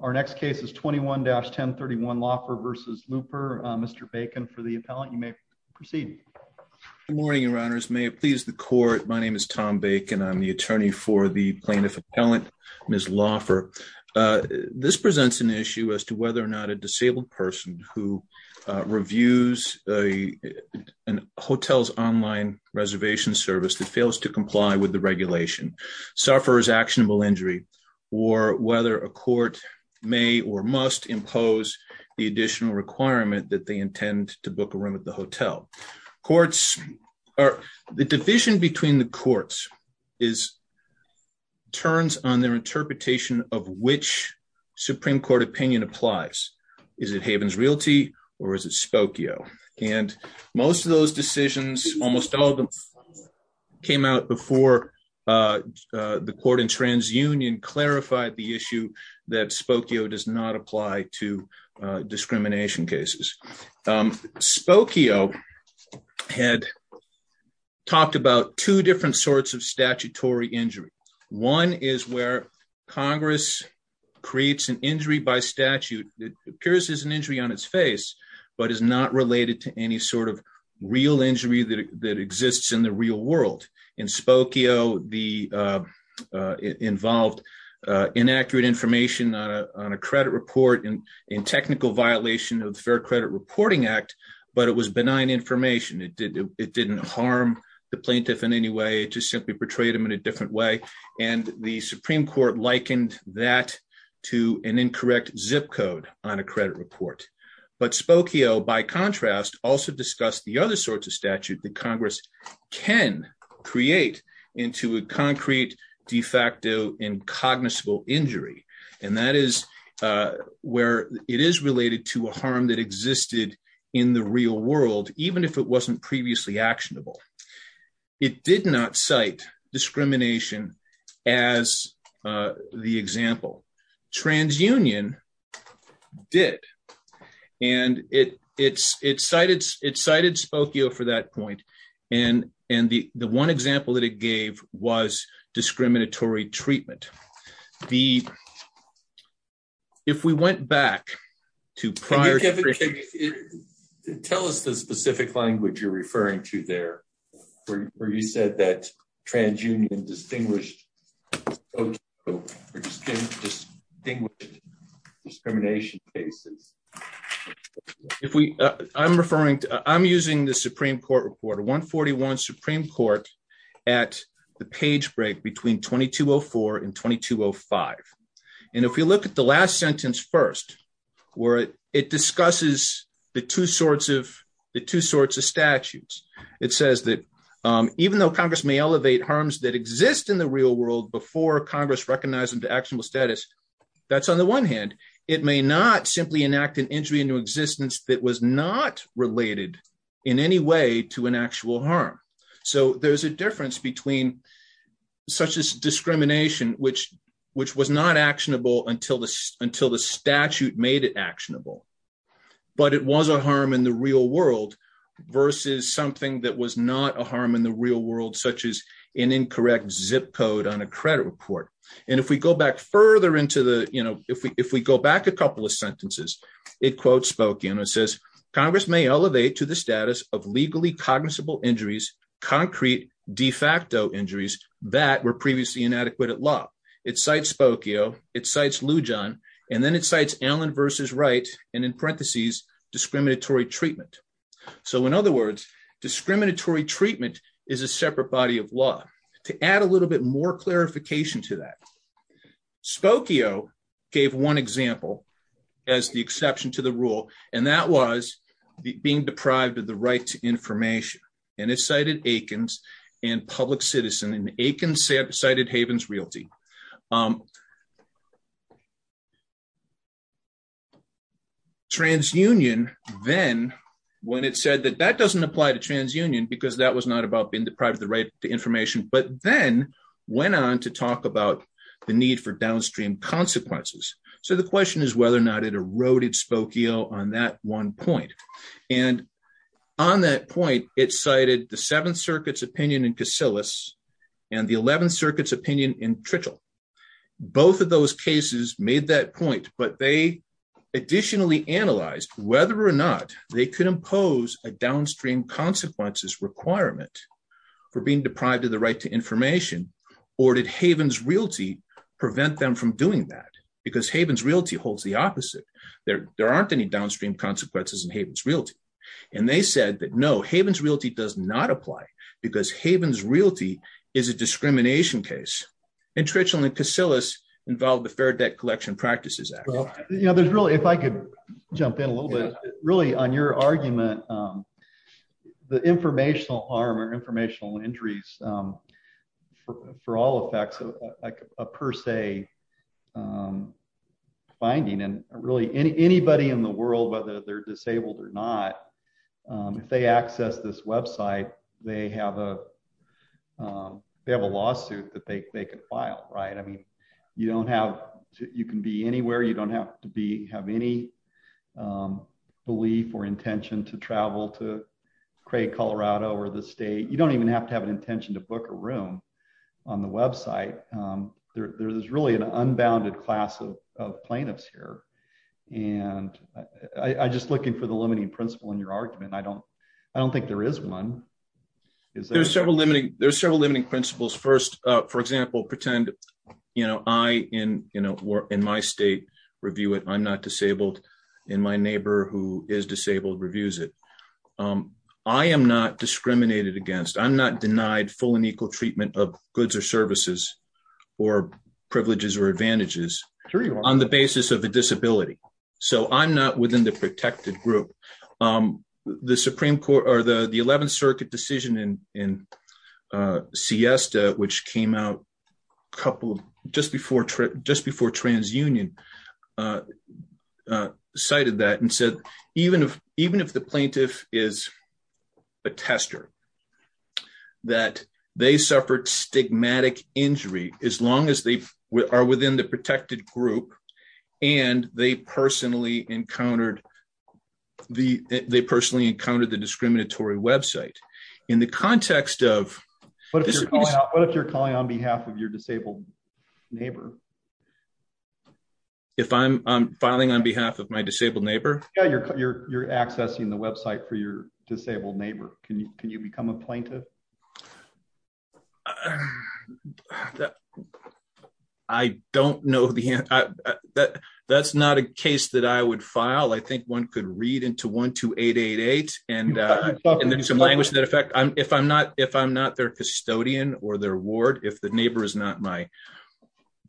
Our next case is 21-1031 Loffer v. Looper. Mr. Bacon for the appellant, you may proceed. Good morning, your honors. May it please the court, my name is Tom Bacon. I'm the attorney for the plaintiff appellant, Ms. Loffer. This presents an issue as to whether or not a disabled person who reviews a hotel's online reservation service that fails to comply with the regulation, suffers actionable injury, or whether a court may or must impose the additional requirement that they intend to book a room at the hotel. The division between the courts turns on their interpretation of which Supreme Court opinion applies. Is it Havens Realty or is Spokio? Most of those decisions came out before the court in TransUnion clarified the issue that Spokio does not apply to discrimination cases. Spokio had talked about two different sorts of statutory injury. One is where Congress creates an injury by statute that appears as an injury but is not related to any sort of real injury that exists in the real world. In Spokio, it involved inaccurate information on a credit report in technical violation of the Fair Credit Reporting Act, but it was benign information. It didn't harm the plaintiff in any way, it just simply portrayed him in a different way. The Supreme Court likened that to an incorrect zip code on a credit report, but Spokio, by contrast, also discussed the other sorts of statute that Congress can create into a concrete de facto incognizable injury, and that is where it is related to a harm that existed in the real world, even if it wasn't previously actionable. It did not cite discrimination as the example. TransUnion did, and it cited Spokio for that point, and the one example that it gave was discriminatory treatment. If we went back to prior... Tell us the specific language you're referring to there, where you said that TransUnion distinguished discrimination cases. I'm using the Supreme Court report, 141 Supreme Court at the page break between 2204 and 2205, and if we look at the last sentence first, where it discusses the two sorts of statutes, it says that even though Congress may elevate harms that exist in the real world before Congress recognizes them to actionable status, that's on the one hand. It may not simply enact an injury into existence that was not related in any way to an actual harm. There's a difference between such as discrimination, which was not actionable until the statute made it actionable, but it was a harm in the real world versus something that was not a harm in the real world, such as an incorrect zip code on a credit report. If we go back a couple of sentences, it quotes Spokio and it says, Congress may elevate to the status of legally cognizable injuries, concrete de facto injuries that were previously inadequate at law. It cites Spokio, it cites Lujan, and then it cites Allen versus Wright, and in parentheses, discriminatory treatment. In other words, discriminatory treatment is a separate body of law. To add a little bit more clarification to that, Spokio gave one example as the exception to the Aikens and public citizen and Aikens cited Havens Realty. TransUnion then, when it said that that doesn't apply to TransUnion because that was not about being deprived of the right to information, but then went on to talk about the need for downstream consequences. The question is whether or not it eroded Spokio on that one point. On that point, it cited the Seventh Circuit's opinion in Casillas and the Eleventh Circuit's opinion in Tritchell. Both of those cases made that point, but they additionally analyzed whether or not they could impose a downstream consequences requirement for being deprived of the right to information, or did Havens Realty prevent them from doing that? Because Havens Realty holds the opposite. There aren't any downstream consequences in Havens Realty. They said that no, Havens Realty does not apply because Havens Realty is a discrimination case. Tritchell and Casillas involved the Fair Debt Collection Practices Act. If I could jump in a little bit, really on your argument, the informational harm or informational injuries, for all effects, a per se finding, and really anybody in the world, whether they're disabled or not, if they access this website, they have a lawsuit that they could file. You can be anywhere. You don't have to have any belief or intention to travel to Craig, Colorado, or the state. You don't even have to have an intention to book a room on the website. There's really an unbounded class of plaintiffs here. I'm just looking for the limiting principle in your argument. I don't think there is one. There's several limiting principles. First, for example, pretend I, in my state, review it. I'm not disabled, and my neighbor who is disabled reviews it. I am not discriminated against. I'm not denied full and equal treatment of goods or services or privileges or advantages on the basis of a disability. I'm not within the protected group. The 11th Circuit decision in Siesta, which came out just before TransUnion, cited that and said, even if the plaintiff is a tester, that they suffered stigmatic injury, as long as they are within the protected group and they personally encountered the discriminatory website. What if you're calling on behalf of your disabled neighbor? If I'm filing on behalf of my disabled neighbor? Yeah, you're accessing the website for your disabled neighbor. Can you become a plaintiff? I don't know. That's not a case that I would file. I think one could read into 12888. If I'm not their custodian or their ward, if the neighbor is not my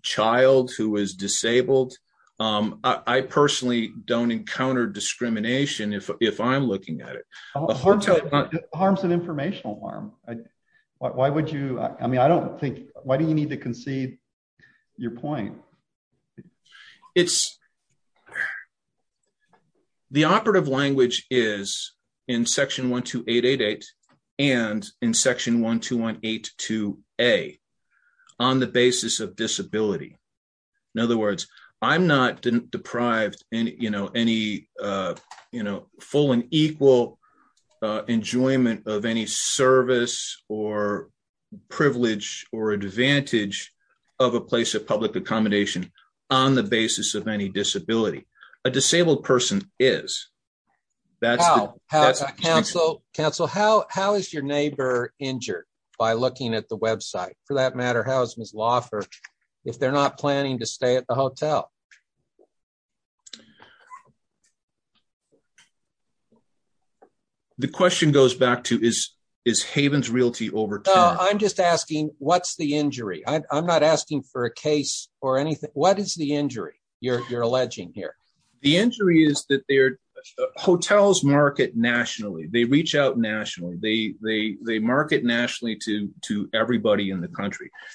child who is disabled, I personally don't encounter discrimination if I'm looking at it. It harms an informational harm. Why do you need to concede your point? The operative language is in section 12888 and in section 12182A on the basis of disability. In other words, I'm not deprived of any full and equal enjoyment of any service or privilege or advantage of a place of public accommodation on the basis of any disability. A disabled person is. Counsel, how is your neighbor injured by looking at the website? For that matter, Ms. Loffer, if they're not planning to stay at the hotel? The question goes back to, is Haven's Realty overturned? I'm just asking, what's the injury? I'm not asking for a case or anything. What is the injury you're alleging here? The injury is that their hotels market nationally. They reach out to the hotel.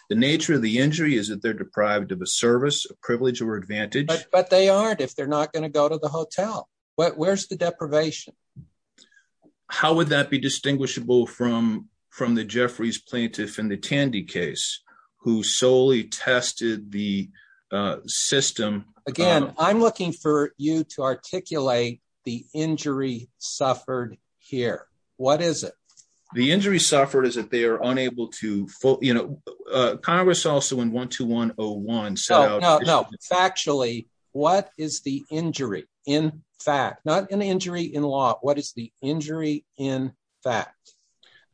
The nature of the injury is that they're deprived of a service, a privilege or advantage. But they aren't if they're not going to go to the hotel. Where's the deprivation? How would that be distinguishable from the Jeffries plaintiff in the Tandy case who solely tested the system? Again, I'm looking for you to articulate the injury suffered here. What is it? The injury suffered is that they are unable to go to the hotel. Congress also in 12101 said... No, no, no. Factually, what is the injury in fact? Not an injury in law. What is the injury in fact?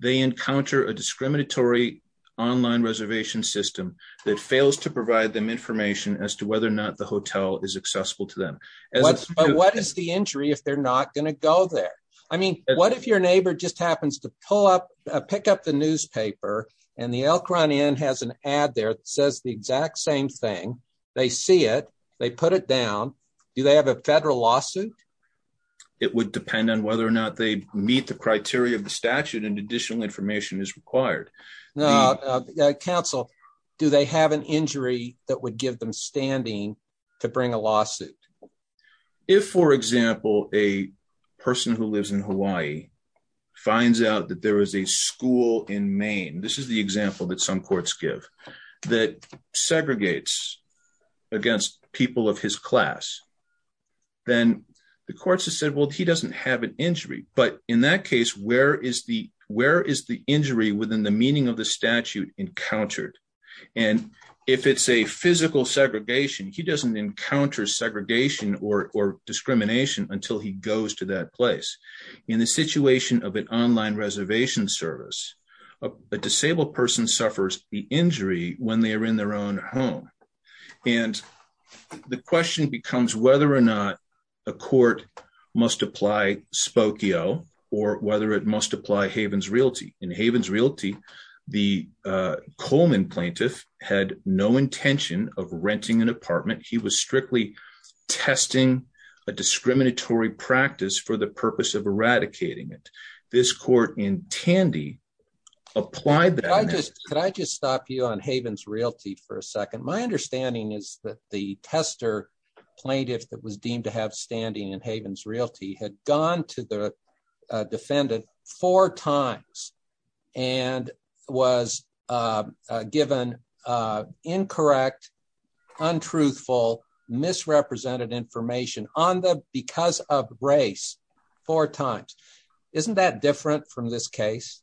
They encounter a discriminatory online reservation system that fails to provide them information as to whether or not the hotel is accessible to them. But what is the injury if they're not going to go there? I mean, what if your neighbor just happens to pick up the newspaper and the Elk Run Inn has an ad there that says the exact same thing. They see it. They put it down. Do they have a federal lawsuit? It would depend on whether or not they meet the criteria of the statute and additional information is required. Now, counsel, do they have an injury that would give them standing to bring a lawsuit? If, for example, a person who lives in Hawaii finds out that there is a school in Maine, this is the example that some courts give, that segregates against people of his class, then the courts have said, well, he doesn't have an injury. But in that case, where is the injury within the meaning of the statute encountered? And if it's a physical segregation, he doesn't encounter segregation or discrimination until he goes to that place. In the situation of an online reservation service, a disabled person suffers the injury when they are in their own home. And the question becomes whether or not a court must apply Spokio or whether it must apply Havens Realty. In Havens Realty, the Coleman plaintiff had no intention of renting an apartment. He was strictly testing a discriminatory practice for the purpose of eradicating it. This court in Tandy applied that. Can I just stop you on Havens Realty for a second? My understanding is that the tester plaintiff that was deemed to have standing in Havens Realty had gone to the defendant four times and was given incorrect, untruthful, misrepresented information because of race four times. Isn't that different from this case?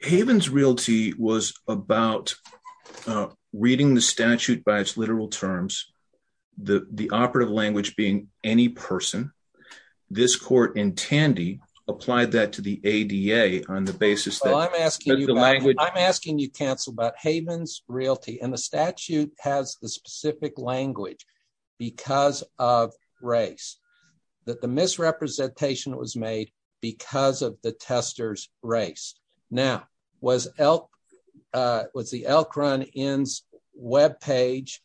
Havens Realty was about reading the statute by its literal terms, the operative language being any person. This court in Tandy applied that to the ADA on the basis that the language I'm asking you cancel about Havens Realty and the statute has the specific language because of race, that the misrepresentation was made because of the testers race. Now, was elk was the Elk Run webpage,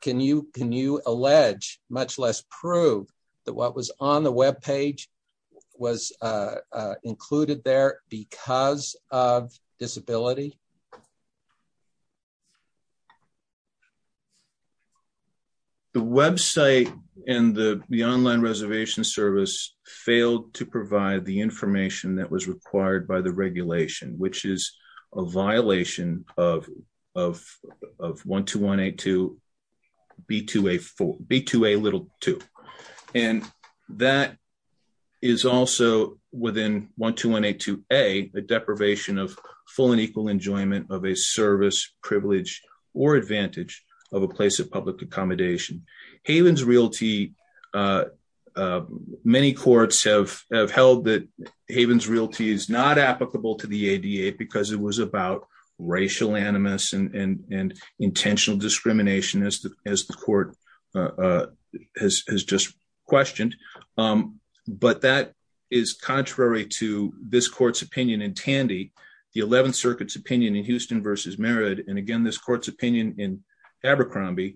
can you allege much less prove that what was on the webpage was included there because of disability? The website and the online reservation service failed to provide the information that was of 12182B2A2. That is also within 12182A, the deprivation of full and equal enjoyment of a service, privilege, or advantage of a place of public accommodation. Havens Realty, many courts have held that Havens Realty is not applicable to the ADA because it was about racial animus and intentional discrimination as the court has just questioned. That is contrary to this court's opinion in Tandy, the 11th Circuit's opinion in Houston versus Merritt, and again, this court's opinion in Abercrombie,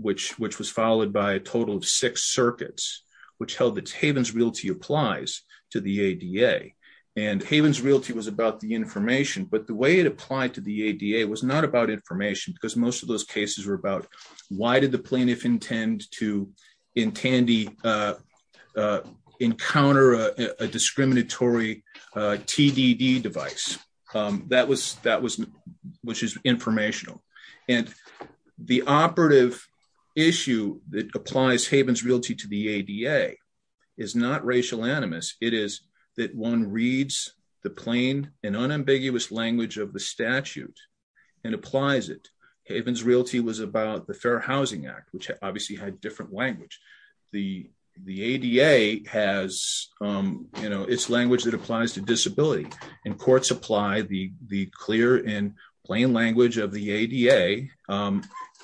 which was followed by a total of six circuits, which held that Havens Realty applies to the ADA. Havens Realty was about the information, the way it applied to the ADA was not about information because most of those cases were about why did the plaintiff intend to encounter a discriminatory TDD device, which is informational. The operative issue that applies Havens Realty to the ADA is not racial animus, it is that one reads the plain and unambiguous language of the statute and applies it. Havens Realty was about the Fair Housing Act, which obviously had different language. The ADA has its language that applies to disability and courts apply the clear and plain language of the ADA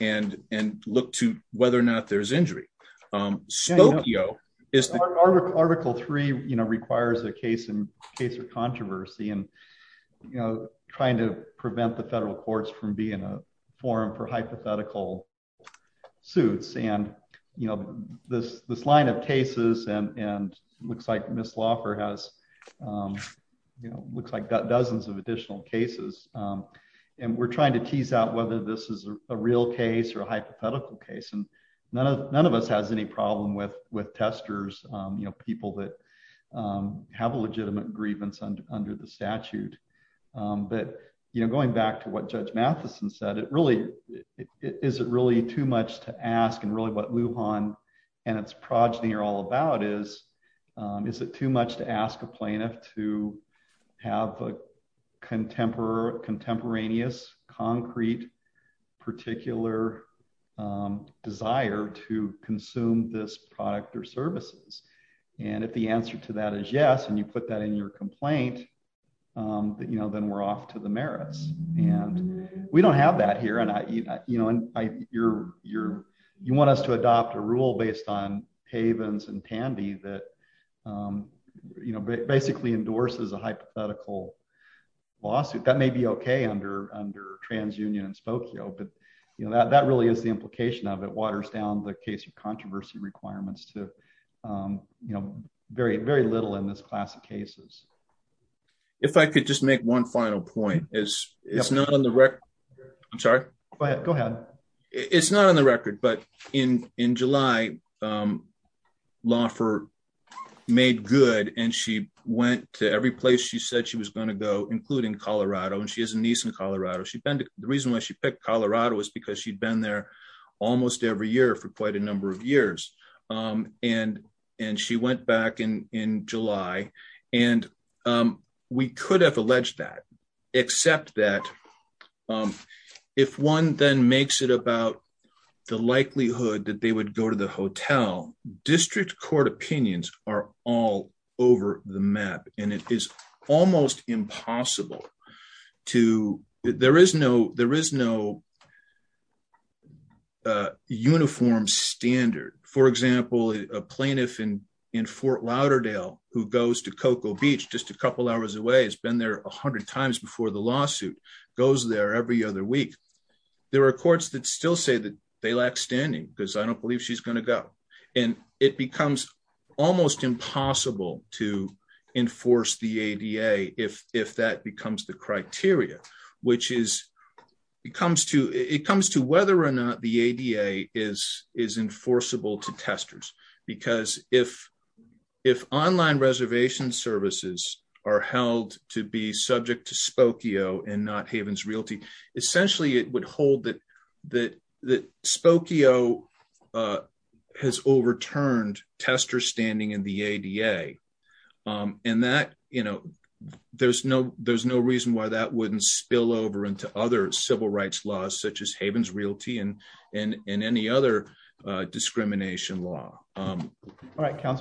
and look to whether or not there is injury. Spokio... Article 3 requires a case of controversy and trying to prevent the federal courts from being a forum for hypothetical suits. This line of cases, looks like Ms. Laufer has dozens of additional cases. We are trying to tease out whether this is a real case or a hypothetical case. None of us has any problem with testers, people that have a legitimate grievance under the statute. Going back to what Judge Matheson said, is it really too much to ask and really what Lujan and its progeny are all about is, is it too much to ask a plaintiff to have a contemporaneous concrete particular desire to consume this product or services? If the answer to that is yes, and you put that in your complaint, then we are off to the merits. We don't have that here. You want us to adopt a rule based on Tandy that basically endorses a hypothetical lawsuit. That may be okay under TransUnion and Spokio, but that really is the implication of it. It waters down the case of controversy requirements to very little in this class of cases. If I could just make one final point. It is not on the record, but in July, Laufer made good and she went to every place she said she was going to go, including Colorado. She has a niece in Colorado. The reason why she picked Colorado is because she had been there almost every year for quite a number of years. She went back in July. We could have alleged that, except that if one then makes it about the likelihood that they would go to the hotel, district court opinions are all over the map. It is almost impossible to enforce the ADA if that becomes the criteria. It comes to whether or not the ADA is enforceable to testers. If online reservation services are held to be subject to Spokio and not Havens Realty, it would hold that Spokio has overturned testers standing in the ADA. There is no reason why that would not spill over into other civil rights laws such as Havens Realty and any other discrimination law. I am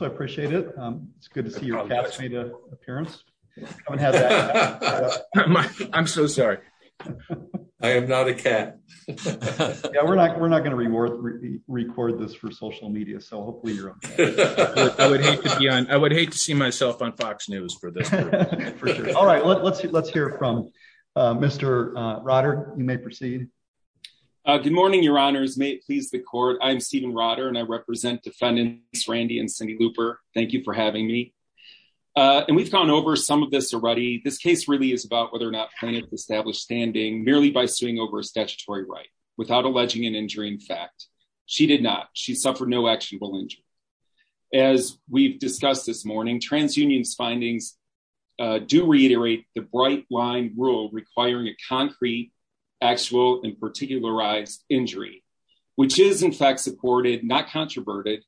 so sorry. I am not a cat. Yeah, we are not going to record this for social media. I would hate to see myself on Fox News for this. All right, let's hear from Mr. Rotter. You may proceed. Good morning, your honors. May it please the court. I am Steven Rotter and I represent defendants Randy and Cindy Looper. Thank you for having me. We have gone over some of this already. This case really is about whether to establish standing merely by suing over a statutory right without alleging an injury in fact. She did not. She suffered no actionable injury. As we have discussed this morning, TransUnion's findings do reiterate the bright line rule requiring a concrete, actual, and particularized injury which is in fact supported, not controverted,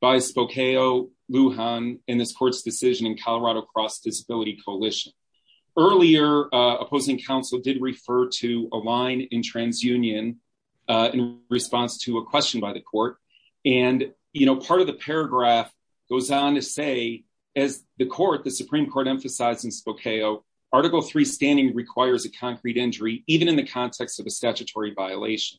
by Spokio, Lujan, and this court's decision in Colorado Cross Disability Coalition. Earlier, opposing counsel did refer to a line in TransUnion in response to a question by the court and part of the paragraph goes on to say, as the Supreme Court emphasized in Spokio, Article III standing requires a concrete injury even in the context of a statutory violation.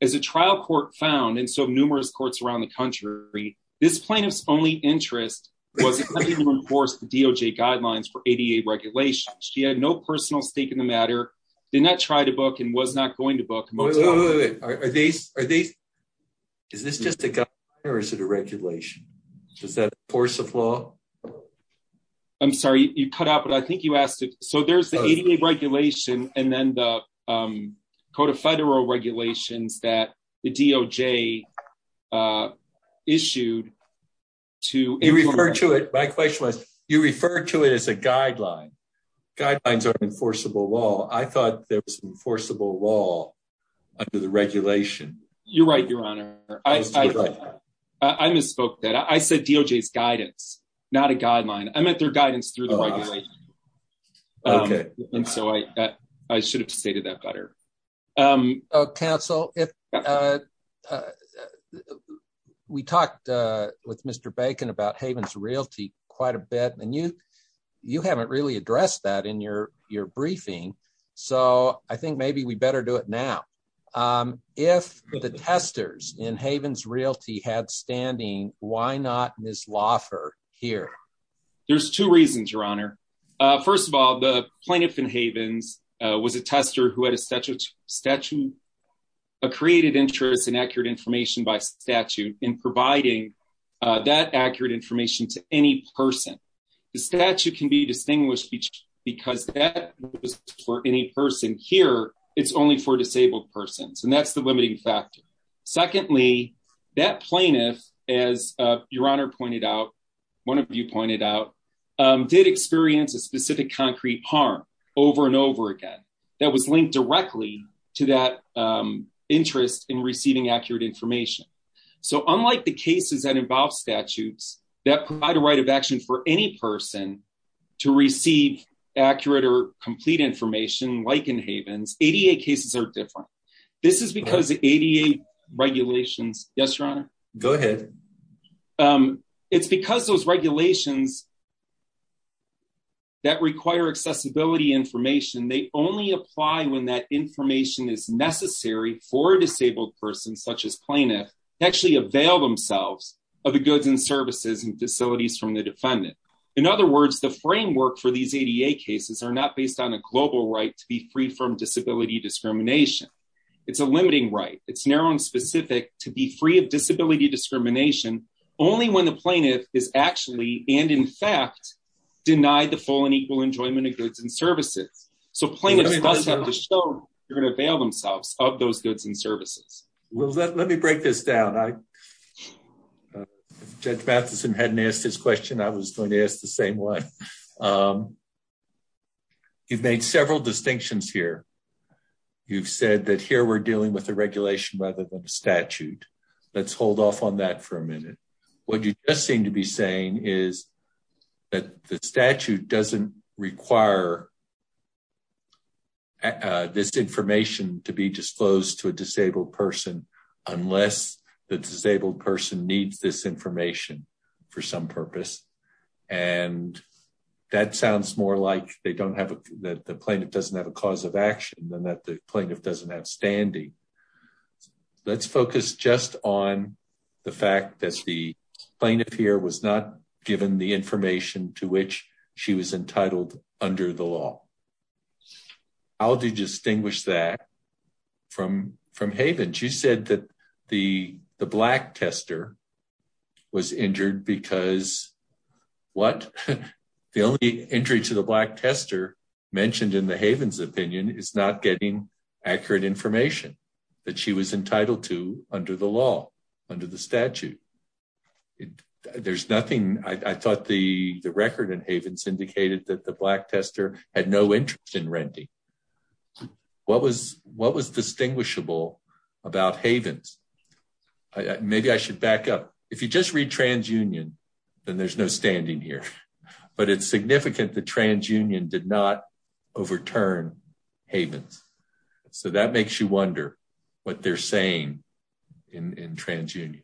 As a trial court found, and so numerous courts around the country, this plaintiff's only interest was to enforce the DOJ guidelines for ADA regulations. She had no personal stake in the matter, did not try to book, and was not going to book. Is this just a guideline or is it a regulation? Is that a force of law? I'm sorry, you cut out, but I think you asked it. So there's the ADA regulation and then the Code of Federal Regulations that the DOJ issued to... You referred to it, my question was, you referred to it as a guideline. Guidelines are an enforceable law. I thought there was an enforceable law under the regulation. You're right, Your Honor. I misspoke there. I said DOJ's guidance, not a guideline. I meant their guidance through the regulation. Okay. And so I should have stated that better. Oh, counsel, we talked with Mr. Bacon about Havens Realty quite a bit and you haven't really addressed that in your briefing. So I think maybe we better do it now. If the testers in Havens Realty had standing, why not Ms. Loffer here? There's two reasons, Your Honor. First of all, the plaintiff in Havens was a tester who had a statute, a created interest in accurate information by statute in providing that accurate information to any person. The statute can be distinguished because that was for any person. Here, it's only for disabled persons and that's the limiting factor. Secondly, that plaintiff, as Your Honor pointed out, one of you pointed out, did experience a specific concrete harm over and over again that was linked directly to that interest in receiving accurate information. So unlike the cases that involve statutes that provide a right of action for any person to receive accurate or complete information, like in Havens, ADA cases are different. This is because the ADA regulations, yes, Your Honor? Go ahead. It's because those regulations that require accessibility information, they only apply when that information is necessary for a disabled person, such as plaintiff, to actually avail themselves of the goods and services and facilities from the defendant. In other words, the framework for these ADA cases are not based on a global right to be free from disability discrimination. It's a limiting right. It's to be free of disability discrimination only when the plaintiff is actually, and in fact, denied the full and equal enjoyment of goods and services. So plaintiffs have to show they're going to avail themselves of those goods and services. Let me break this down. Judge Matheson hadn't asked his question. I was going to ask the same one. You've made several distinctions here. You've said that here we're dealing with regulation rather than a statute. Let's hold off on that for a minute. What you just seem to be saying is that the statute doesn't require this information to be disclosed to a disabled person unless the disabled person needs this information for some purpose. And that sounds more like they don't have, that the plaintiff doesn't have a cause of action than that the plaintiff doesn't have standing. Let's focus just on the fact that the plaintiff here was not given the information to which she was entitled under the law. How do you distinguish that from Haven? She said that the black tester was injured because what the only entry to the black tester mentioned in the Haven's opinion is not getting accurate information that she was entitled to under the law, under the statute. There's nothing, I thought the record in Haven's indicated that the black tester had no interest in renting. What was distinguishable about Haven's? Maybe I should back up. If you just read TransUnion, then there's no standing here. But it's significant that TransUnion did not overturn Haven's. So that makes you wonder what they're saying in TransUnion.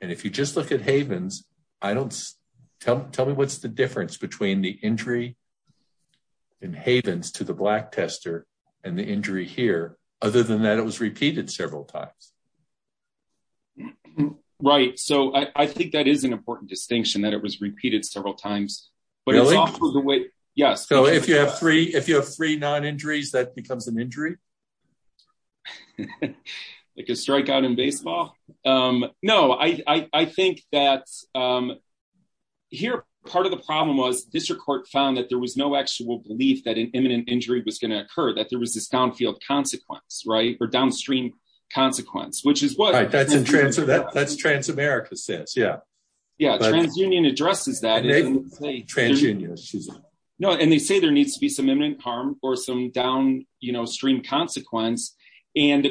And if you just look at Haven's, I don't, tell me what's the difference between the injury in Haven's to the black tester and the injury here, other than that it was repeated several times. Right, so I think that is an important distinction that it was repeated several times. Really? Yes. So if you have three non-injuries, that becomes an injury? Like a strikeout in baseball? No, I think that here part of the problem was district court found that there was no actual belief that an imminent injury was going to occur, that there was this downstream consequence. Right, that's what TransAmerica says. Yeah, TransUnion addresses that. And they say there needs to be some imminent harm or some downstream consequence. Let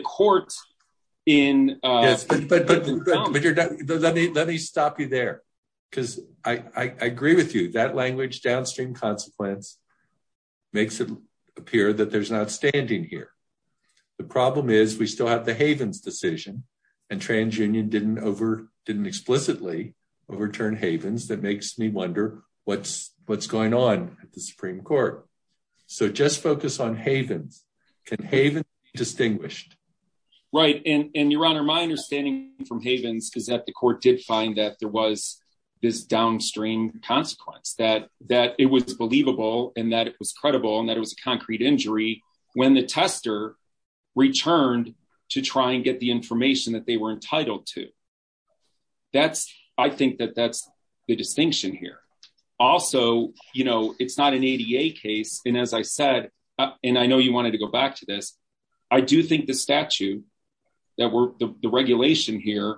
me stop you there, because I agree with you. That language, downstream consequence, makes it appear that there's an outstanding here. The problem is we still have the Haven's decision, and TransUnion didn't explicitly overturn Haven's. That makes me wonder what's going on at the Supreme Court. So just focus on Haven's. Can Haven's be distinguished? Right, and Your Honor, my understanding from Haven's is that the court did find that there was this downstream consequence, that it was believable, and that it was credible, and that it was a concrete injury when the tester returned to try and get the information that they were entitled to. I think that that's the distinction here. Also, it's not an ADA case, and as I said, and I know you wanted to go back to this, I do think the statute, the regulation here,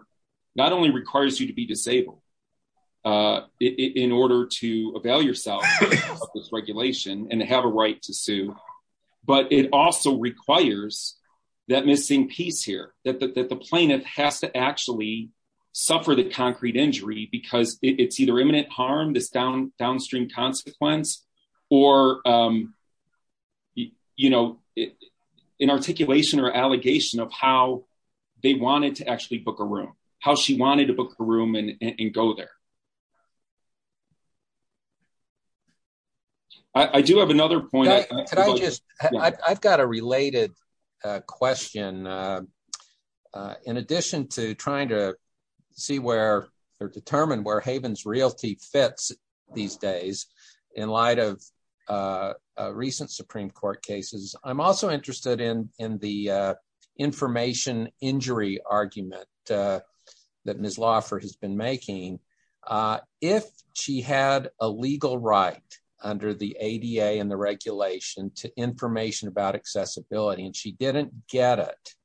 not only requires you to be disabled in order to avail yourself of this regulation and have a right to sue, but it also requires that missing piece here, that the plaintiff has to actually suffer the concrete injury because it's either imminent harm, this downstream consequence, or an articulation or allegation of how they wanted to actually book a room, how she wanted to book a room and go there. I do have another point. I've got a related question. In addition to trying to determine where Haven's Realty fits these days in light of recent Supreme Court cases, I'm also interested in the information injury argument that Ms. Lauffer has been making. If she had a legal right under the ADA and the regulation to information about accessibility and she didn't get it,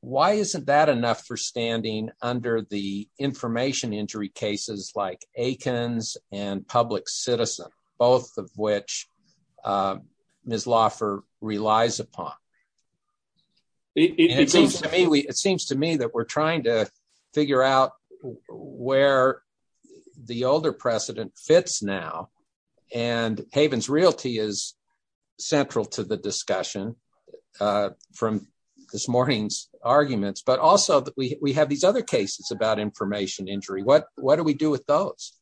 why isn't that enough for standing under the information injury cases like Aikens and Public Citizen, both of which Ms. Lauffer relies upon? It seems to me that we're trying to figure out where the older precedent fits now, and Haven's Realty is central to the discussion from this morning's arguments, but also we have these other cases about information injury. What do we do with those?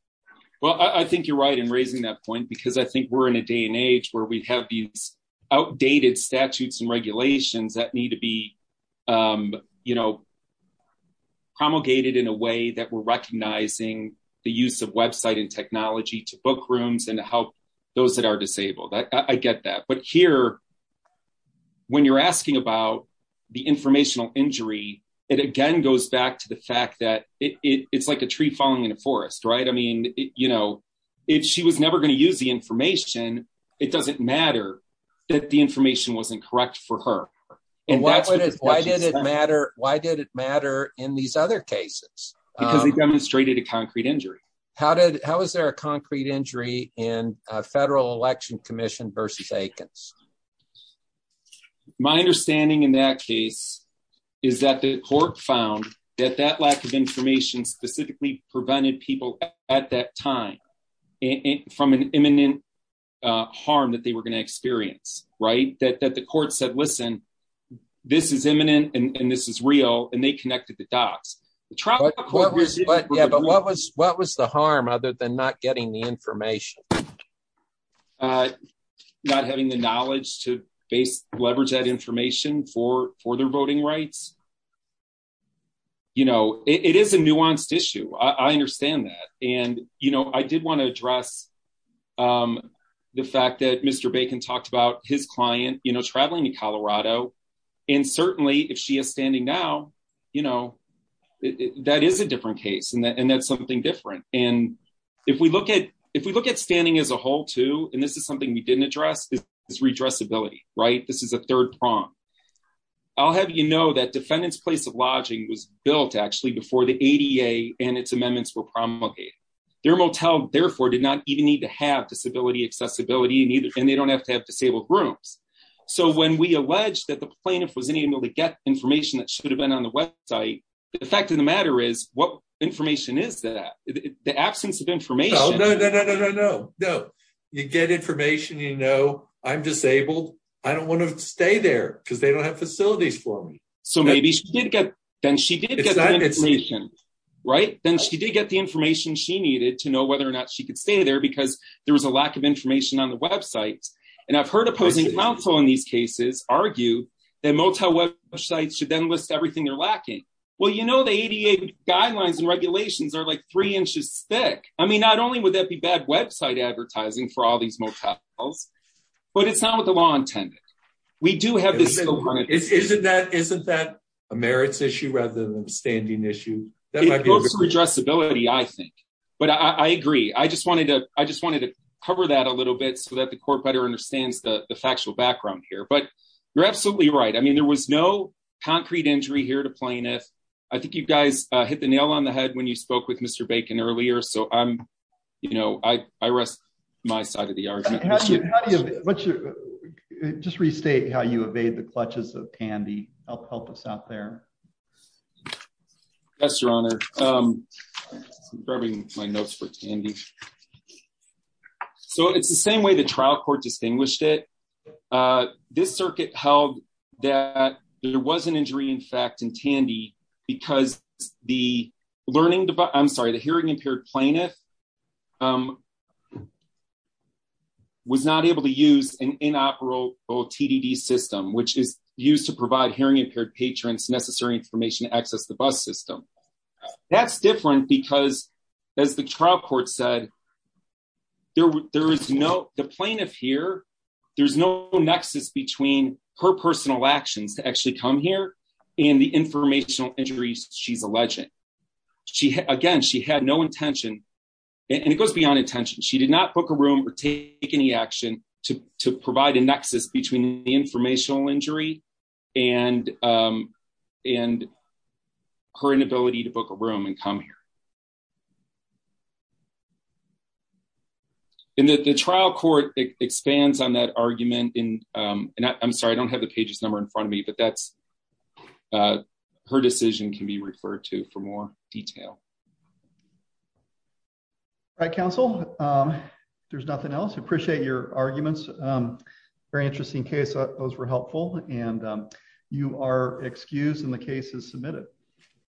Well, I think you're right in raising that point because I think we're in a day and age where we have these outdated statutes and regulations that need to be promulgated in a way that we're those that are disabled. I get that. But here, when you're asking about the informational injury, it again goes back to the fact that it's like a tree falling in a forest, right? I mean, she was never going to use the information. It doesn't matter that the information wasn't correct for her. Why did it matter in these other cases? Because they demonstrated a concrete injury. How was there a concrete injury in a federal election commission versus Aikens? My understanding in that case is that the court found that that lack of information specifically prevented people at that time from an imminent harm that they were going to experience, right? That the court said, listen, this is imminent and this is real, and they connected the dots. But what was the harm other than not getting the information? Not having the knowledge to leverage that information for their voting rights. It is a nuanced issue. I understand that. And I did want to address the fact that Mr. Bacon talked about his client traveling to Colorado, and certainly if she is standing now, that is a different case, and that's something different. And if we look at standing as a whole too, and this is something we didn't address, is redressability, right? This is a third prong. I'll have you know that defendant's place of lodging was built actually before the ADA and its amendments were promulgated. Their motel, therefore, did not even need to have disability accessibility, and they don't have to have accessibility. The fact of the matter is, what information is that? The absence of information. No, no, no, no, no. You get information, you know I'm disabled. I don't want to stay there because they don't have facilities for me. So maybe she did get the information, right? Then she did get the information she needed to know whether or not she could stay there because there was a lack of information on the website. And I've heard opposing counsel in these cases argue that motel websites should then list everything they're lacking. Well, you know, the ADA guidelines and regulations are like three inches thick. I mean, not only would that be bad website advertising for all these motels, but it's not what the law intended. We do have this. Isn't that a merits issue rather than a standing issue? It goes to redressability, I think, but I agree. I just wanted to cover that a little bit so that court better understands the factual background here. But you're absolutely right. I mean, there was no concrete injury here to plaintiff. I think you guys hit the nail on the head when you spoke with Mr. Bacon earlier, so I'm, you know, I rest my side of the argument. Just restate how you evade the clutches of Tandy. Help us out there. Yes, Your Honor. I'm grabbing my notes for Tandy. So it's the same way the trial court distinguished it. This circuit held that there was an injury, in fact, in Tandy because the learning device, I'm sorry, the hearing impaired plaintiff was not able to use an inoperable TDD system, which is used to provide hearing impaired patrons necessary information to access the bus system. That's different because as the trial court said, there is no, the plaintiff here, there's no nexus between her personal actions to actually come here and the informational injuries she's alleging. Again, she had no intention and it goes beyond intention. She did not book a room or take any action to provide a nexus between the informational injury and her inability to communicate. And the trial court expands on that argument in, and I'm sorry, I don't have the page's number in front of me, but that's, her decision can be referred to for more detail. All right, counsel, there's nothing else. Appreciate your arguments. Very interesting case. I thought those were helpful and you are excused and the case is submitted.